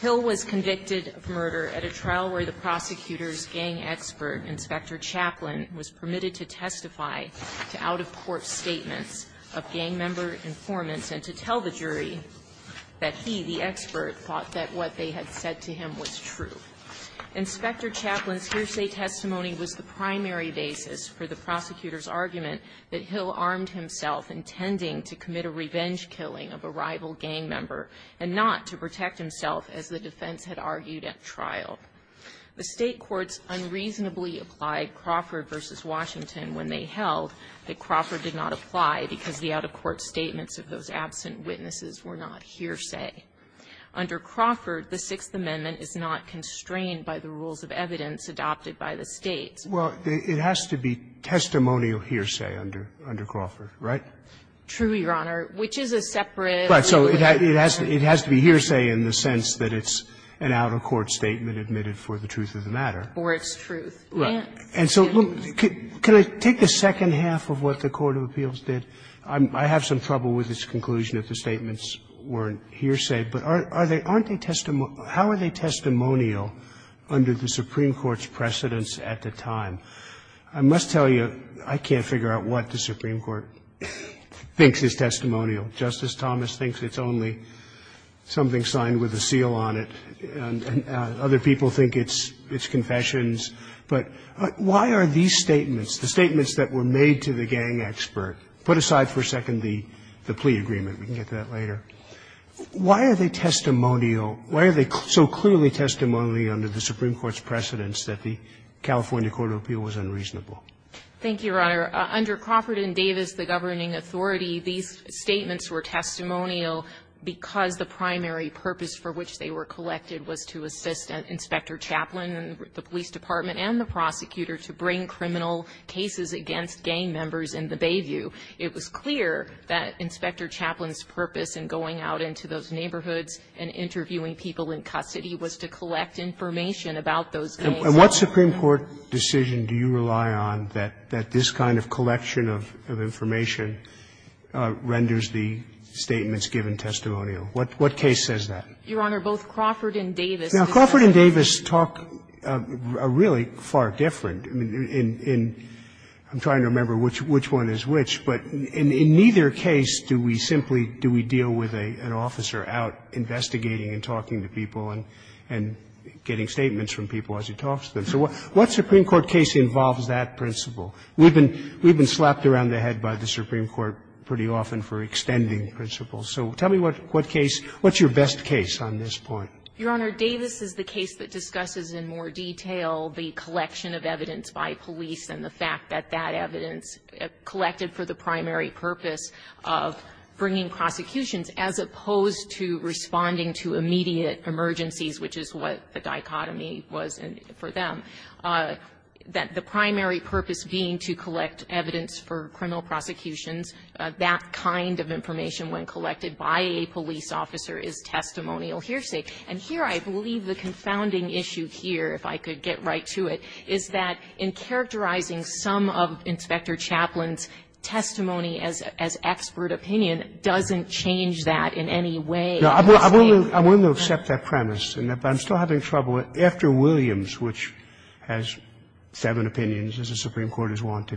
Hill was convicted of murder at a trial where the prosecutor's gang expert, Inspector Chaplin, was permitted to testify to out-of-court statements of gang member informants and to tell the jury that he, the expert, thought that what they had said to him was true. Inspector Chaplin's hearsay testimony was the primary basis for the prosecutor's argument that Hill armed himself intending to commit a revenge killing of a rival gang member and not to protect himself, as the defense had argued at trial. The State courts unreasonably applied Crawford v. Washington when they held that Crawford did not apply because the out-of-court statements of those absent witnesses were not hearsay. Under Crawford, the Sixth Amendment is not constrained by the rules of evidence adopted by the States. Roberts, it has to be testimonial hearsay under Crawford, right? True, Your Honor, which is a separate. Right. So it has to be hearsay in the sense that it's an out-of-court statement admitted for the truth of the matter. Or it's truth. Right. And so can I take the second half of what the court of appeals did? I have some trouble with its conclusion if the statements weren't hearsay. But are they – aren't they – how are they testimonial under the Supreme Court's precedence at the time? I must tell you, I can't figure out what the Supreme Court thinks is testimonial. Justice Thomas thinks it's only something signed with a seal on it, and other people think it's confessions. But why are these statements, the statements that were made to the gang expert? Put aside for a second the plea agreement. We can get to that later. Why are they testimonial? Why are they so clearly testimony under the Supreme Court's precedence that the California court of appeals was unreasonable? Thank you, Your Honor. Under Crawford and Davis, the governing authority, these statements were testimonial because the primary purpose for which they were collected was to assist Inspector Chaplin and the police department and the prosecutor to bring criminal cases against gang members in the Bayview. It was clear that Inspector Chaplin's purpose in going out into those neighborhoods and interviewing people in custody was to collect information about those gangs. And what Supreme Court decision do you rely on that this kind of collection of information renders the statements given testimonial? What case says that? Your Honor, both Crawford and Davis. Now, Crawford and Davis talk really far different. I'm trying to remember which one is which, but in neither case do we simply deal with an officer out investigating and talking to people and getting statements from people as he talks to them. So what Supreme Court case involves that principle? We've been slapped around the head by the Supreme Court pretty often for extending principles. So tell me what case, what's your best case on this point? Your Honor, Davis is the case that discusses in more detail the collection of evidence by police and the fact that that evidence collected for the primary purpose of bringing prosecutions, as opposed to responding to immediate emergencies, which is what the dichotomy was for them, that the primary purpose being to collect evidence for criminal prosecutions, that kind of information when collected by a police officer is testimonial hearsay. And here I believe the confounding issue here, if I could get right to it, is that in characterizing some of Inspector Chaplin's testimony as expert opinion doesn't change that in any way. I'm just saying that. I'm willing to accept that premise, but I'm still having trouble with after Williams, which has seven opinions, as the Supreme Court has wanted to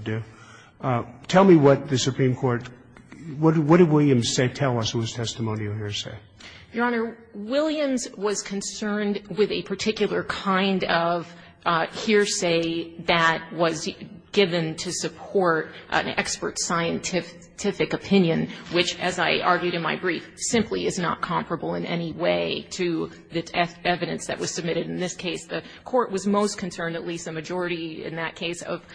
do, tell me what the Supreme Court, what did Williams say, tell us was testimonial hearsay? Your Honor, Williams was concerned with a particular kind of hearsay that was given to support an expert scientific opinion, which, as I argued in my brief, simply is not comparable in any way to the evidence that was submitted in this case. The Court was most concerned, at least the majority in that case, of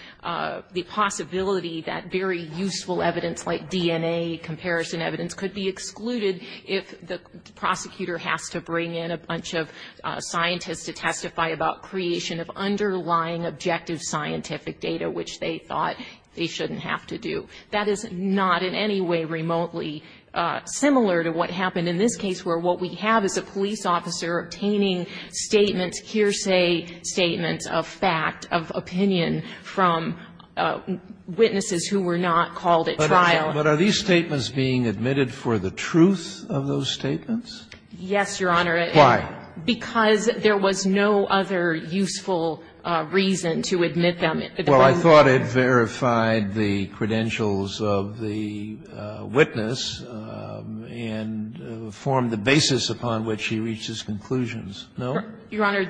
the possibility that very useful evidence like DNA comparison evidence could be excluded if the prosecutor has to bring in a bunch of scientists to testify about creation of underlying objective scientific data, which they thought they shouldn't have to do. That is not in any way remotely similar to what happened in this case, where what we have is a police officer obtaining statements, hearsay statements of fact, of opinion from witnesses who were not called at trial. But are these statements being admitted for the truth of those statements? Yes, Your Honor. Why? Because there was no other useful reason to admit them. Well, I thought it verified the credentials of the witness and formed the basis upon which he reached his conclusions. No? Your Honor,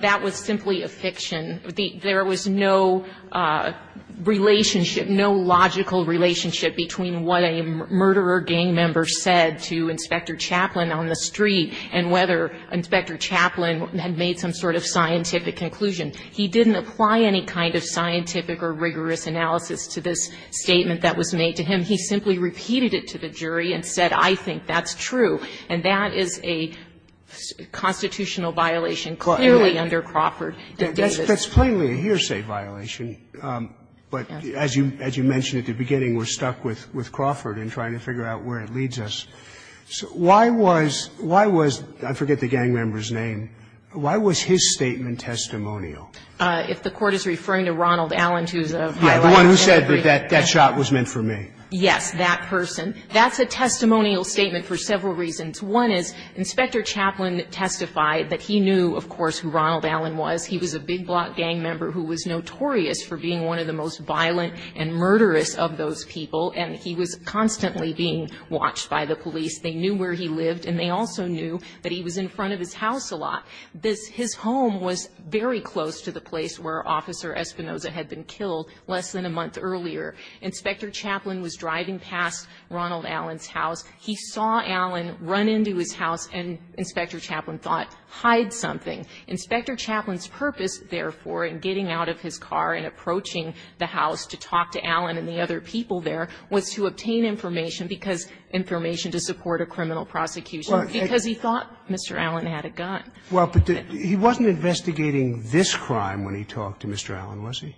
that was simply a fiction. There was no relationship, no logical relationship between what a murderer gang member said to Inspector Chaplin on the street and whether Inspector Chaplin had made some sort of scientific conclusion. He didn't apply any kind of scientific or rigorous analysis to this statement that was made to him. He simply repeated it to the jury and said, I think that's true. And that is a constitutional violation clearly under Crawford and Davis. But that's plainly a hearsay violation. But as you mentioned at the beginning, we're stuck with Crawford in trying to figure out where it leads us. Why was – I forget the gang member's name – why was his statement testimonial? If the Court is referring to Ronald Allen, who's a high-ranking military. Yes, the one who said that that shot was meant for me. Yes, that person. That's a testimonial statement for several reasons. One is Inspector Chaplin testified that he knew, of course, who Ronald Allen was. He was a big-block gang member who was notorious for being one of the most violent and murderous of those people, and he was constantly being watched by the police. They knew where he lived, and they also knew that he was in front of his house a lot. This – his home was very close to the place where Officer Espinoza had been killed less than a month earlier. Inspector Chaplin was driving past Ronald Allen's house. He saw Allen run into his house, and Inspector Chaplin thought, hide something. Inspector Chaplin's purpose, therefore, in getting out of his car and approaching the house to talk to Allen and the other people there was to obtain information because – information to support a criminal prosecution because he thought Mr. Allen had a gun. Well, but he wasn't investigating this crime when he talked to Mr. Allen, was he?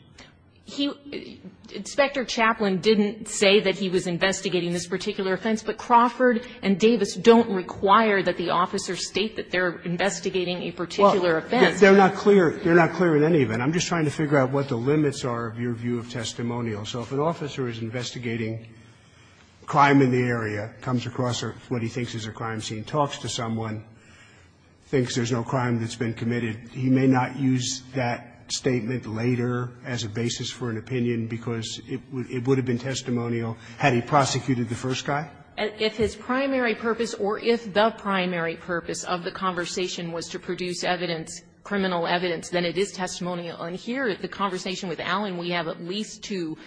He – Inspector Chaplin didn't say that he was investigating this particular offense, but Crawford and Davis don't require that the officers state that they're They're not clear. They're not clear in any event. I'm just trying to figure out what the limits are of your view of testimonial. So if an officer is investigating crime in the area, comes across what he thinks is a crime scene, talks to someone, thinks there's no crime that's been committed, he may not use that statement later as a basis for an opinion because it would have been testimonial had he prosecuted the first guy? If his primary purpose, or if the primary purpose of the conversation was to produce evidence, criminal evidence, then it is testimonial. And here at the conversation with Allen, we have at least two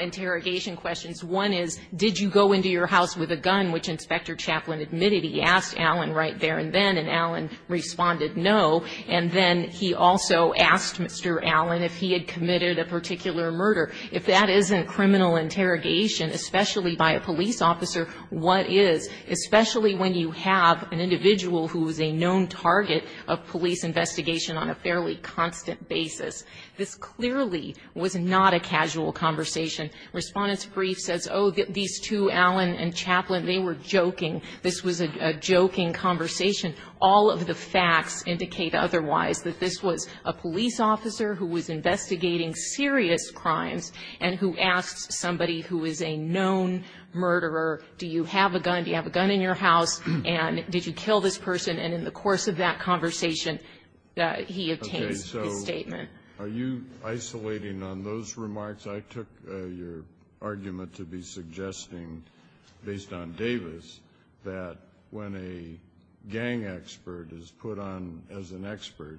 interrogation questions. One is, did you go into your house with a gun, which Inspector Chaplin admitted? He asked Allen right there and then, and Allen responded no. And then he also asked Mr. Allen if he had committed a particular murder. If that isn't criminal interrogation, especially by a police officer, what is? Especially when you have an individual who is a known target of police investigation on a fairly constant basis. This clearly was not a casual conversation. Respondent's brief says, oh, these two, Allen and Chaplin, they were joking. This was a joking conversation. All of the facts indicate otherwise, that this was a police officer who was investigating serious crimes and who asked somebody who is a known murderer, do you have a gun, do you have a gun in your house, and did you kill this person? And in the course of that conversation, he obtains his statement. Kennedy, so are you isolating on those remarks? I took your argument to be suggesting, based on Davis, that when a gang expert is put on as an expert,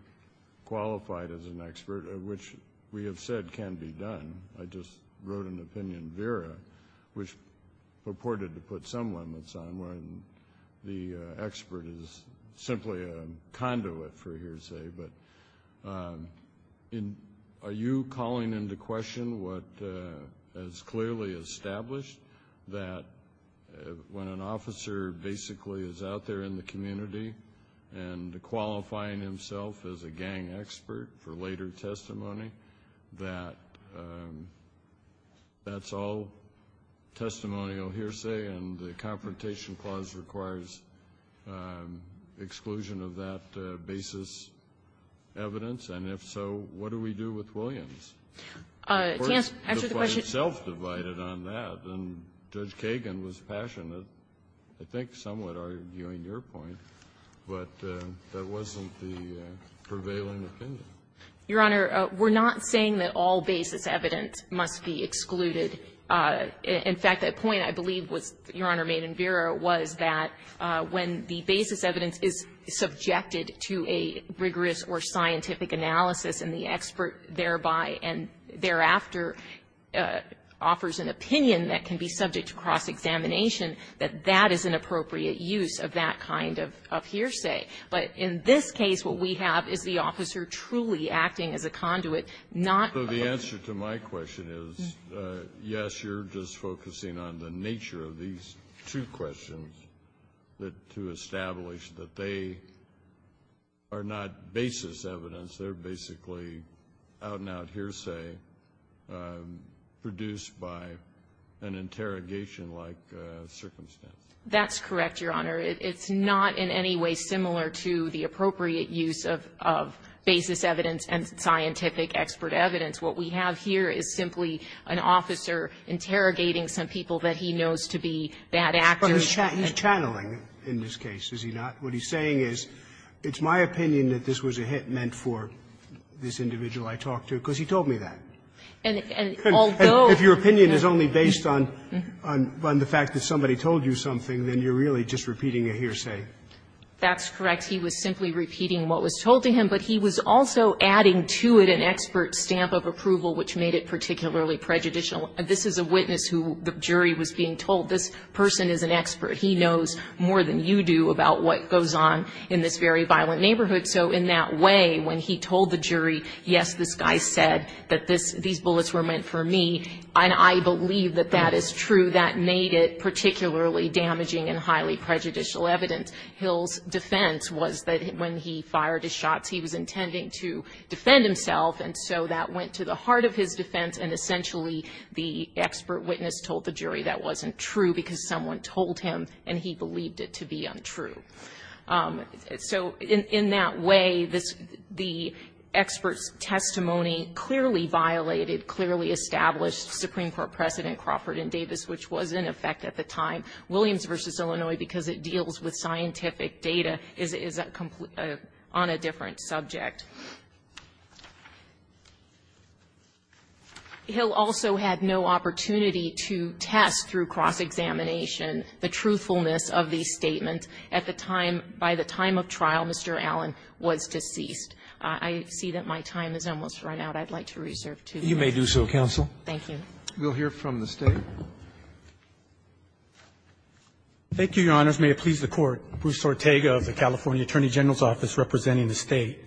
qualified as an expert, which we have said can be done. I just wrote an opinion, Vera, which purported to put some limits on when the expert is simply a conduit, for hearsay. But are you calling into question what is clearly established, that when an officer basically is out there in the community and qualifying himself as a gang expert for later testimony, that that's all testimonial hearsay and the Confrontation Clause requires exclusion of that basis evidence? And if so, what do we do with Williams? The Court itself divided on that, and Judge Kagan was passionate, I think, somewhat arguing your point. But that wasn't the prevailing opinion. Your Honor, we're not saying that all basis evidence must be excluded. In fact, the point I believe was, Your Honor, made in Vera, was that when the basis evidence is subjected to a rigorous or scientific analysis and the expert thereby and thereafter offers an opinion that can be subject to cross-examination, that that is an appropriate use of that kind of hearsay. But in this case, what we have is the officer truly acting as a conduit, not a So the answer to my question is, yes, you're just focusing on the nature of these two questions to establish that they are not basis evidence. They're basically out-and-out hearsay produced by an interrogation-like circumstance. That's correct, Your Honor. It's not in any way similar to the appropriate use of basis evidence and scientific expert evidence. What we have here is simply an officer interrogating some people that he knows to be bad actors. But he's channeling in this case, is he not? What he's saying is, it's my opinion that this was a hit meant for this individual I talked to, because he told me that. And although And if your opinion is only based on the fact that somebody told you something, then you're really just repeating a hearsay. That's correct. He was simply repeating what was told to him. But he was also adding to it an expert stamp of approval, which made it particularly prejudicial. This is a witness who the jury was being told, this person is an expert. He knows more than you do about what goes on in this very violent neighborhood. So in that way, when he told the jury, yes, this guy said that these bullets were meant for me, and I believe that that is true, that made it particularly damaging and highly prejudicial evidence. Hill's defense was that when he fired his shots, he was intending to defend himself. And so that went to the heart of his defense. And essentially, the expert witness told the jury that wasn't true, because someone told him, and he believed it to be untrue. So in that way, the expert's testimony clearly violated, clearly established Supreme Court precedent Crawford and Davis, which was in effect at the time. Williams v. Illinois, because it deals with scientific data, is on a different subject. Hill also had no opportunity to test through cross-examination the truthfulness of the statement. At the time, by the time of trial, Mr. Allen was deceased. I see that my time has almost run out. I'd like to reserve two minutes. You may do so, counsel. Thank you. We'll hear from the State. Thank you, Your Honors. May it please the Court. Bruce Ortega of the California Attorney General's Office representing the State.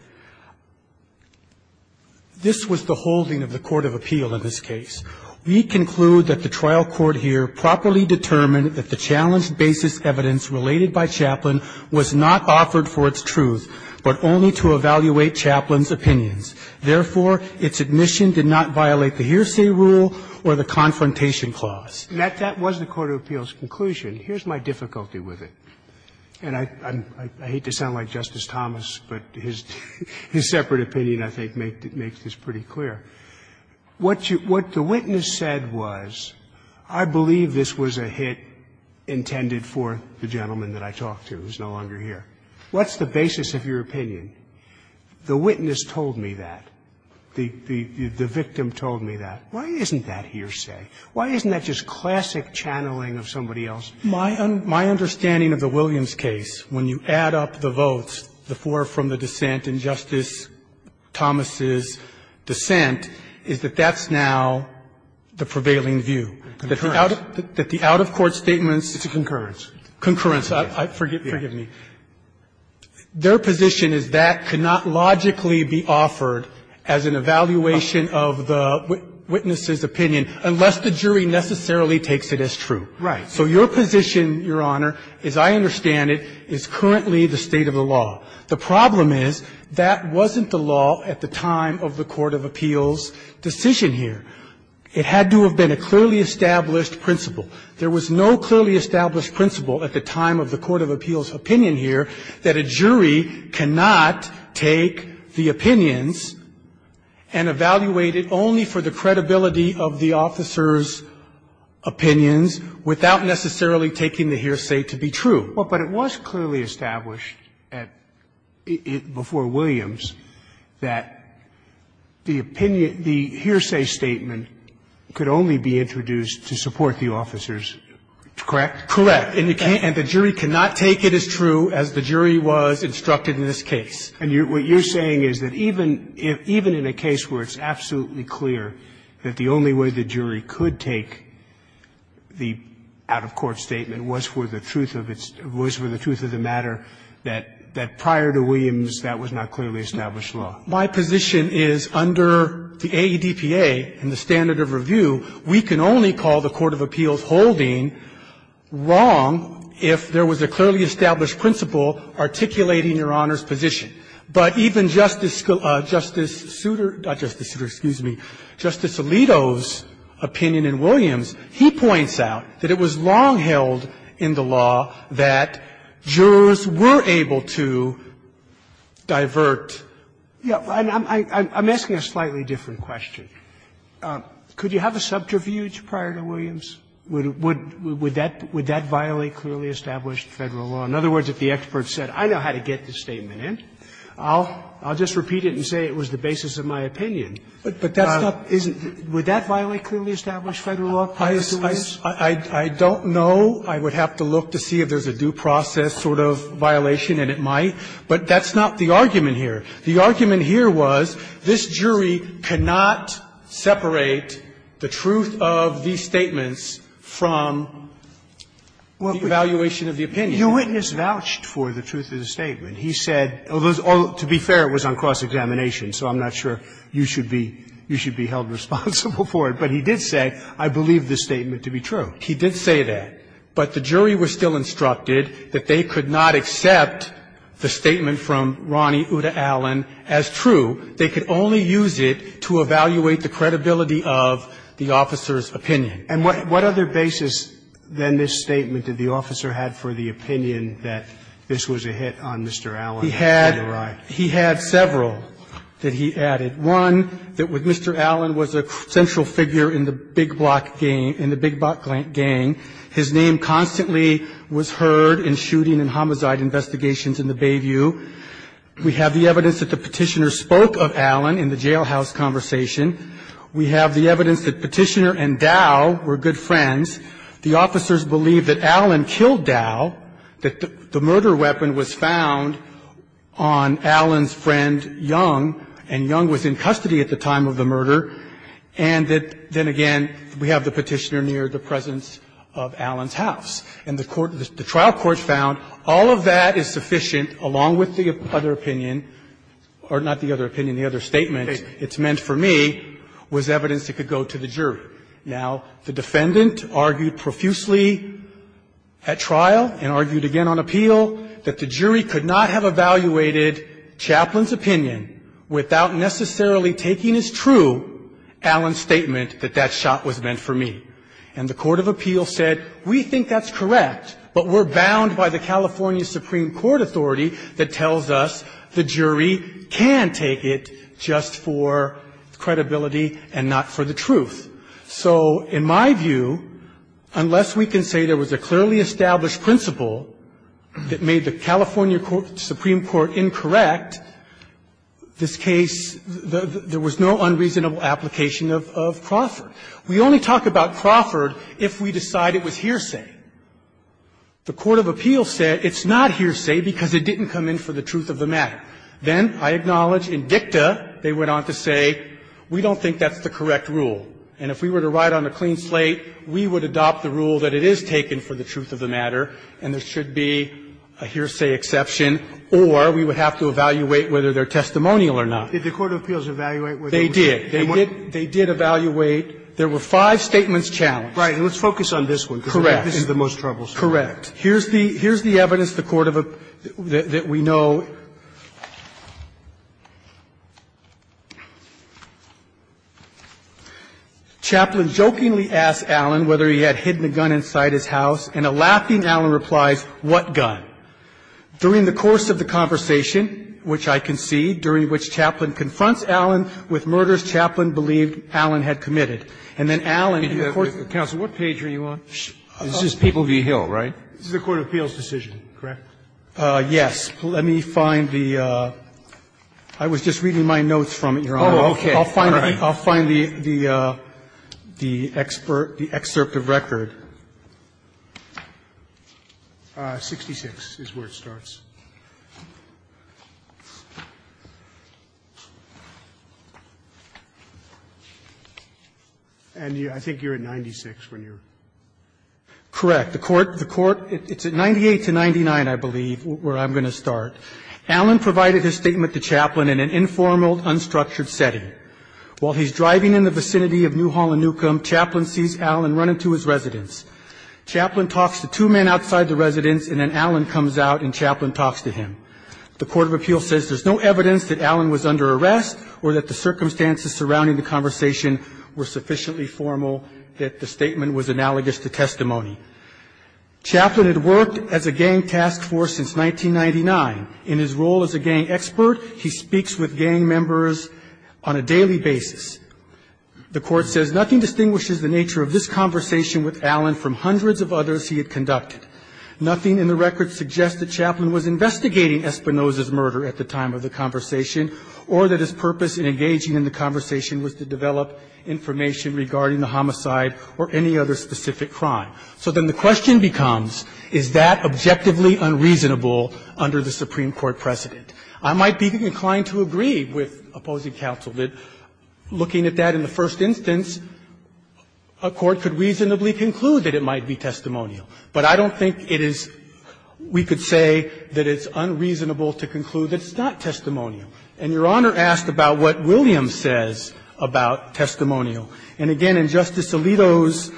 This was the holding of the court of appeal in this case. We conclude that the trial court here properly determined that the challenged basis evidence related by Chaplin was not offered for its truth, but only to evaluate Chaplin's opinions. Therefore, its admission did not violate the hearsay rule or the confrontation clause. And that was the court of appeal's conclusion. Here's my difficulty with it. And I hate to sound like Justice Thomas, but his separate opinion, I think, makes this pretty clear. What the witness said was, I believe this was a hit intended for the gentleman that I talked to who's no longer here. What's the basis of your opinion? The witness told me that. The victim told me that. Why isn't that hearsay? Why isn't that just classic channeling of somebody else? My understanding of the Williams case, when you add up the votes, the four from the dissent and Justice Thomas' dissent, is that that's now the prevailing view. That the out-of-court statements. It's a concurrence. Concurrence. Forgive me. Their position is that cannot logically be offered as an evaluation of the witness's opinion unless the jury necessarily takes it as true. Right. So your position, Your Honor, as I understand it, is currently the state of the law. The problem is, that wasn't the law at the time of the court of appeal's decision here. It had to have been a clearly established principle. There was no clearly established principle at the time of the court of appeal's opinion here that a jury cannot take the opinions and evaluate it only for the credibility of the officer's opinions without necessarily taking the hearsay to be true. Well, but it was clearly established at the end before Williams that the opinion the hearsay statement could only be introduced to support the officer's. Correct? Correct. And the jury cannot take it as true as the jury was instructed in this case. And what you're saying is that even in a case where it's absolutely clear that the only way the jury could take the out-of-court statement was for the truth of its – was for the truth of the matter, that prior to Williams that was not clearly established law. My position is, under the AEDPA and the standard of review, we can only call the court of appeal's holding wrong if there was a clearly established principle articulating Your Honor's position. But even Justice Souter – not Justice Souter, excuse me – Justice Alito's opinion in Williams, he points out that it was long held in the law that jurors were able to divert. Yeah. I'm asking a slightly different question. Could you have a subterfuge prior to Williams? Would that violate clearly established Federal law? In other words, if the expert said, I know how to get this statement in. I'll just repeat it and say it was the basis of my opinion. But that's not – would that violate clearly established Federal law prior to Williams? I don't know. I would have to look to see if there's a due process sort of violation, and it might. But that's not the argument here. The argument here was this jury cannot separate the truth of these statements from the evaluation of the opinion. Your witness vouched for the truth of the statement. He said – although, to be fair, it was on cross-examination, so I'm not sure you should be held responsible for it. But he did say, I believe this statement to be true. He did say that. But the jury was still instructed that they could not accept the statement from Ronny Uda-Allen as true. They could only use it to evaluate the credibility of the officer's opinion. And what other basis, then, this statement did the officer have for the opinion that this was a hit on Mr. Allen? He had – he had several that he added. One, that Mr. Allen was a central figure in the Big Block gang – in the Big Block gang. His name constantly was heard in shooting and homicide investigations in the Bayview. We have the evidence that the Petitioner spoke of Allen in the jailhouse conversation. We have the evidence that Petitioner and Dow were good friends. The officers believe that Allen killed Dow, that the murder weapon was found on Allen's friend Young, and Young was in custody at the time of the murder, and that, then again, we have the Petitioner near the presence of Allen's house. And the trial court found all of that is sufficient, along with the other opinion – or not the other opinion, the other statement, it's meant for me, was evidence that could go to the jury. Now, the defendant argued profusely at trial and argued again on appeal that the jury could not have evaluated Chaplain's opinion without necessarily taking as true Allen's statement that that shot was meant for me. And the court of appeal said, we think that's correct, but we're bound by the California Supreme Court authority that tells us the jury can take it just for credibility and not for the truth. So in my view, unless we can say there was a clearly established principle that made the California Supreme Court incorrect, this case, there was no unreasonable application of Crawford. We only talk about Crawford if we decide it was hearsay. The court of appeal said it's not hearsay because it didn't come in for the truth of the matter. Then, I acknowledge, in dicta, they went on to say, we don't think that's the correct rule, and if we were to write on a clean slate, we would adopt the rule that it is taken for the truth of the matter, and there should be a hearsay exception, or we would have to evaluate whether they're testimonial or not. Roberts. Did the court of appeals evaluate whether it was hearsay? They did. They did evaluate. There were five statements challenged. Right. And let's focus on this one. Correct. This is the most troublesome. Correct. Here's the evidence the court of the we know. Chaplain jokingly asked Allen whether he had hidden a gun inside his house, and a laughing Allen replies, what gun? During the course of the conversation, which I concede, during which Chaplain confronts Allen with murders Chaplain believed Allen had committed, and then Allen in court. Counsel, what page are you on? This is People v. Hill, right? This is the court of appeals decision, correct? Yes. Let me find the – I was just reading my notes from it, Your Honor. Oh, okay. All right. I'll find the excerpt of record. 66 is where it starts. And I think you're at 96 when you're – Correct. The court – it's at 98 to 99, I believe, where I'm going to start. Allen provided his statement to Chaplain in an informal, unstructured setting. While he's driving in the vicinity of New Hall and Newcomb, Chaplain sees Allen running to his residence. Chaplain talks to two men outside the residence, and then Allen comes out and talks to him. The court of appeals says there's no evidence that Allen was under arrest or that the circumstances surrounding the conversation were sufficiently formal that the statement was analogous to testimony. Chaplain had worked as a gang task force since 1999. In his role as a gang expert, he speaks with gang members on a daily basis. The court says nothing distinguishes the nature of this conversation with Allen from hundreds of others he had conducted. Nothing in the record suggests that Chaplain was investigating Espinosa's murder at the time of the conversation or that his purpose in engaging in the conversation was to develop information regarding the homicide or any other specific crime. So then the question becomes, is that objectively unreasonable under the Supreme Court precedent? I might be inclined to agree with opposing counsel that, looking at that in the first instance, a court could reasonably conclude that it might be testimonial. But I don't think it is we could say that it's unreasonable to conclude that it's not testimonial. And Your Honor asked about what Williams says about testimonial. And again, in Justice Alito's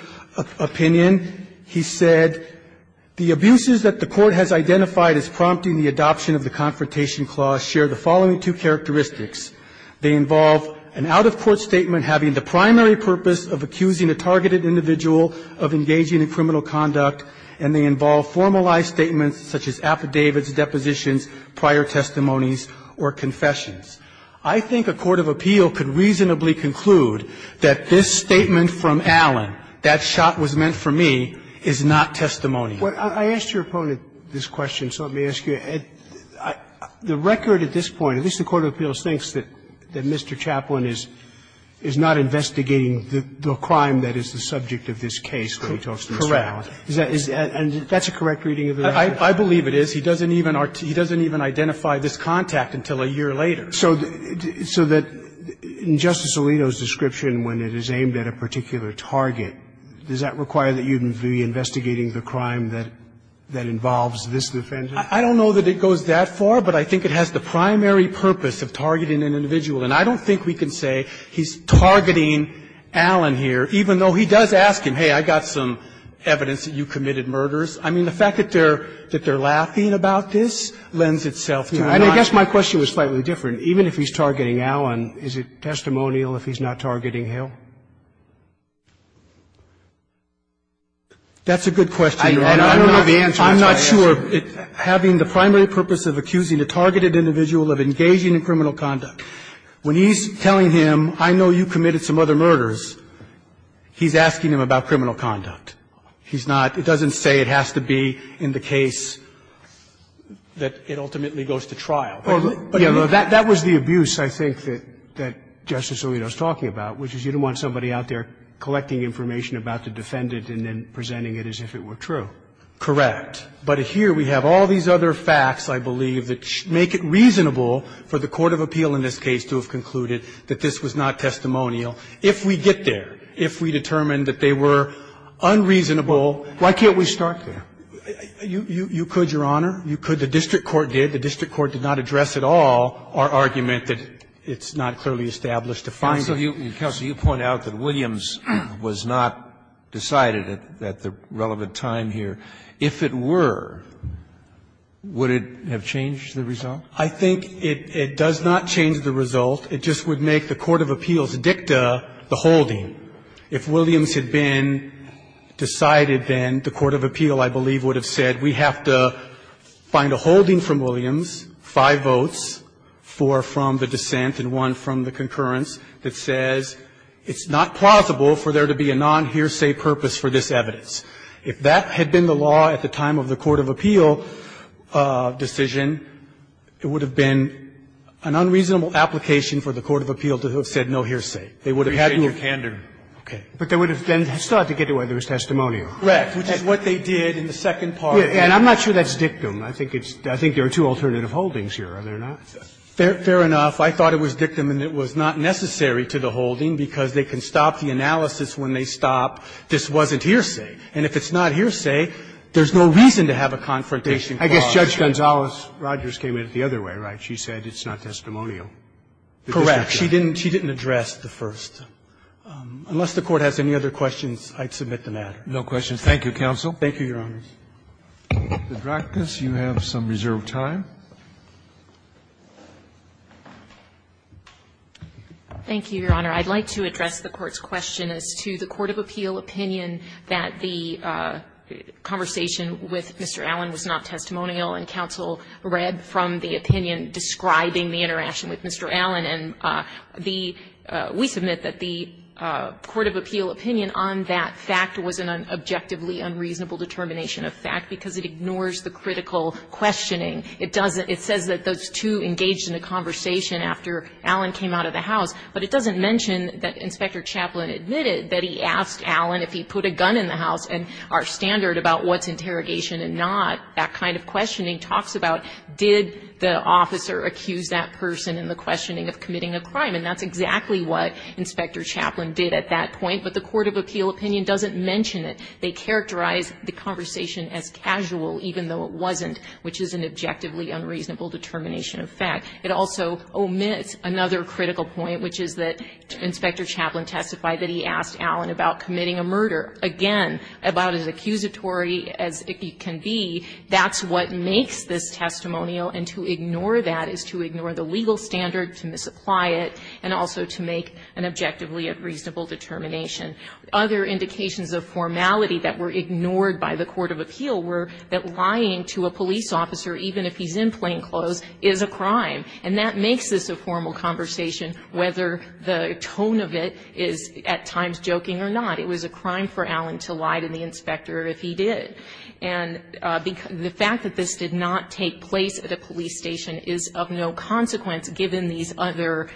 opinion, he said, the abuses that the court has identified as prompting the adoption of the confrontation clause share the following two characteristics. They involve an out-of-court statement having the primary purpose of accusing a targeted individual of engaging in criminal conduct, and they involve formalized statements such as affidavits, depositions, prior testimonies, or confessions. I think a court of appeal could reasonably conclude that this statement from Allen, that shot was meant for me, is not testimonial. I asked your opponent this question, so let me ask you. The record at this point, at least the court of appeals thinks that Mr. Chaplain is not investigating the crime that is the subject of this case when he talks to Mr. Allen. Correct. And that's a correct reading of the record? I believe it is. He doesn't even identify this contact until a year later. So that in Justice Alito's description, when it is aimed at a particular target, does that require that you be investigating the crime that involves this defendant? I don't know that it goes that far, but I think it has the primary purpose of targeting an individual. And I don't think we can say he's targeting Allen here, even though he does ask him, hey, I got some evidence that you committed murders. I mean, the fact that they're laughing about this lends itself to a non- And I guess my question was slightly different. Even if he's targeting Allen, is it testimonial if he's not targeting him? That's a good question, Your Honor. I don't know the answer to that. I'm not sure having the primary purpose of accusing a targeted individual of engaging in criminal conduct. When he's telling him, I know you committed some other murders, he's asking him about criminal conduct. He's not – it doesn't say it has to be in the case that it ultimately goes to trial. But, you know, that was the abuse, I think, that Justice Alito's talking about, which is you don't want somebody out there collecting information about the defendant and then presenting it as if it were true. Correct. But here we have all these other facts, I believe, that make it reasonable for the court of appeal in this case to have concluded that this was not testimonial. If we get there, if we determine that they were unreasonable, why can't we start there? You could, Your Honor. You could. The district court did. The district court did not address at all our argument that it's not clearly established to find it. Counsel, you point out that Williams was not decided at the relevant time here. If it were, would it have changed the result? I think it does not change the result. It just would make the court of appeals dicta the holding. If Williams had been decided, then the court of appeal, I believe, would have said we have to find a holding from Williams, five votes, four from the dissent and one from the concurrence that says it's not plausible for there to be a non-hearsay purpose for this evidence. If that had been the law at the time of the court of appeal decision, it would have been an unreasonable application for the court of appeal to have said no hearsay. They would have had to have been. But they would have then started to get to whether it was testimonial. Right. Which is what they did in the second part. And I'm not sure that's dictum. I think it's – I think there are two alternative holdings here, are there not? Fair enough. I thought it was dictum and it was not necessary to the holding because they can stop the analysis when they stop this wasn't hearsay. And if it's not hearsay, there's no reason to have a confrontation clause. I guess Judge Gonzales-Rogers came at it the other way, right? She said it's not testimonial. Correct. She didn't address the first. Unless the Court has any other questions, I'd submit the matter. No questions. Thank you, counsel. Thank you, Your Honors. Dr. Drakos, you have some reserved time. Thank you, Your Honor. I'd like to address the Court's question as to the court of appeal opinion that the conversation with Mr. Allen was not testimonial and counsel read from the opinion describing the interaction with Mr. Allen. And the – we submit that the court of appeal opinion on that fact was an objectively unreasonable determination of fact because it ignores the critical questioning. It doesn't – it says that those two engaged in a conversation after Allen came out of the house, but it doesn't mention that Inspector Chaplin admitted that he asked Allen if he put a gun in the house and our standard about what's interrogation and not, that kind of questioning talks about did the officer accuse that person in the questioning of committing a crime. And that's exactly what Inspector Chaplin did at that point. But the court of appeal opinion doesn't mention it. They characterize the conversation as casual even though it wasn't, which is an objectively unreasonable determination of fact. It also omits another critical point, which is that Inspector Chaplin testified that he asked Allen about committing a murder. Again, about as accusatory as it can be, that's what makes this testimonial, and to ignore that is to ignore the legal standard, to misapply it, and also to make an objectively unreasonable determination. Other indications of formality that were ignored by the court of appeal were that a police officer, even if he's in plainclothes, is a crime, and that makes this a formal conversation whether the tone of it is at times joking or not. It was a crime for Allen to lie to the inspector if he did. And the fact that this did not take place at a police station is of no consequence given these other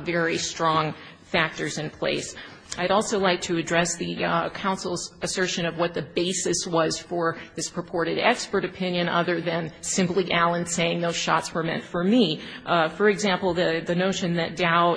very strong factors in place. I'd also like to address the counsel's assertion of what the basis was for this reported expert opinion other than simply Allen saying those shots were meant for me. For example, the notion that Dow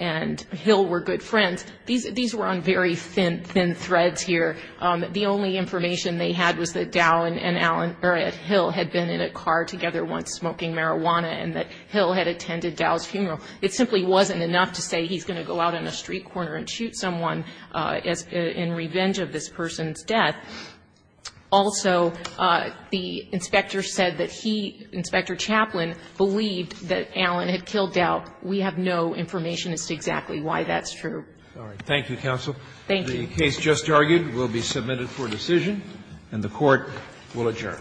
and Hill were good friends, these were on very thin threads here. The only information they had was that Dow and Allen, or Hill, had been in a car together once smoking marijuana, and that Hill had attended Dow's funeral. It simply wasn't enough to say he's going to go out on a street corner and shoot someone in revenge of this person's death. Also, the inspector said that he, Inspector Chaplin, believed that Allen had killed Dow. We have no information as to exactly why that's true. Thank you, counsel. Thank you. The case just argued will be submitted for decision, and the Court will adjourn.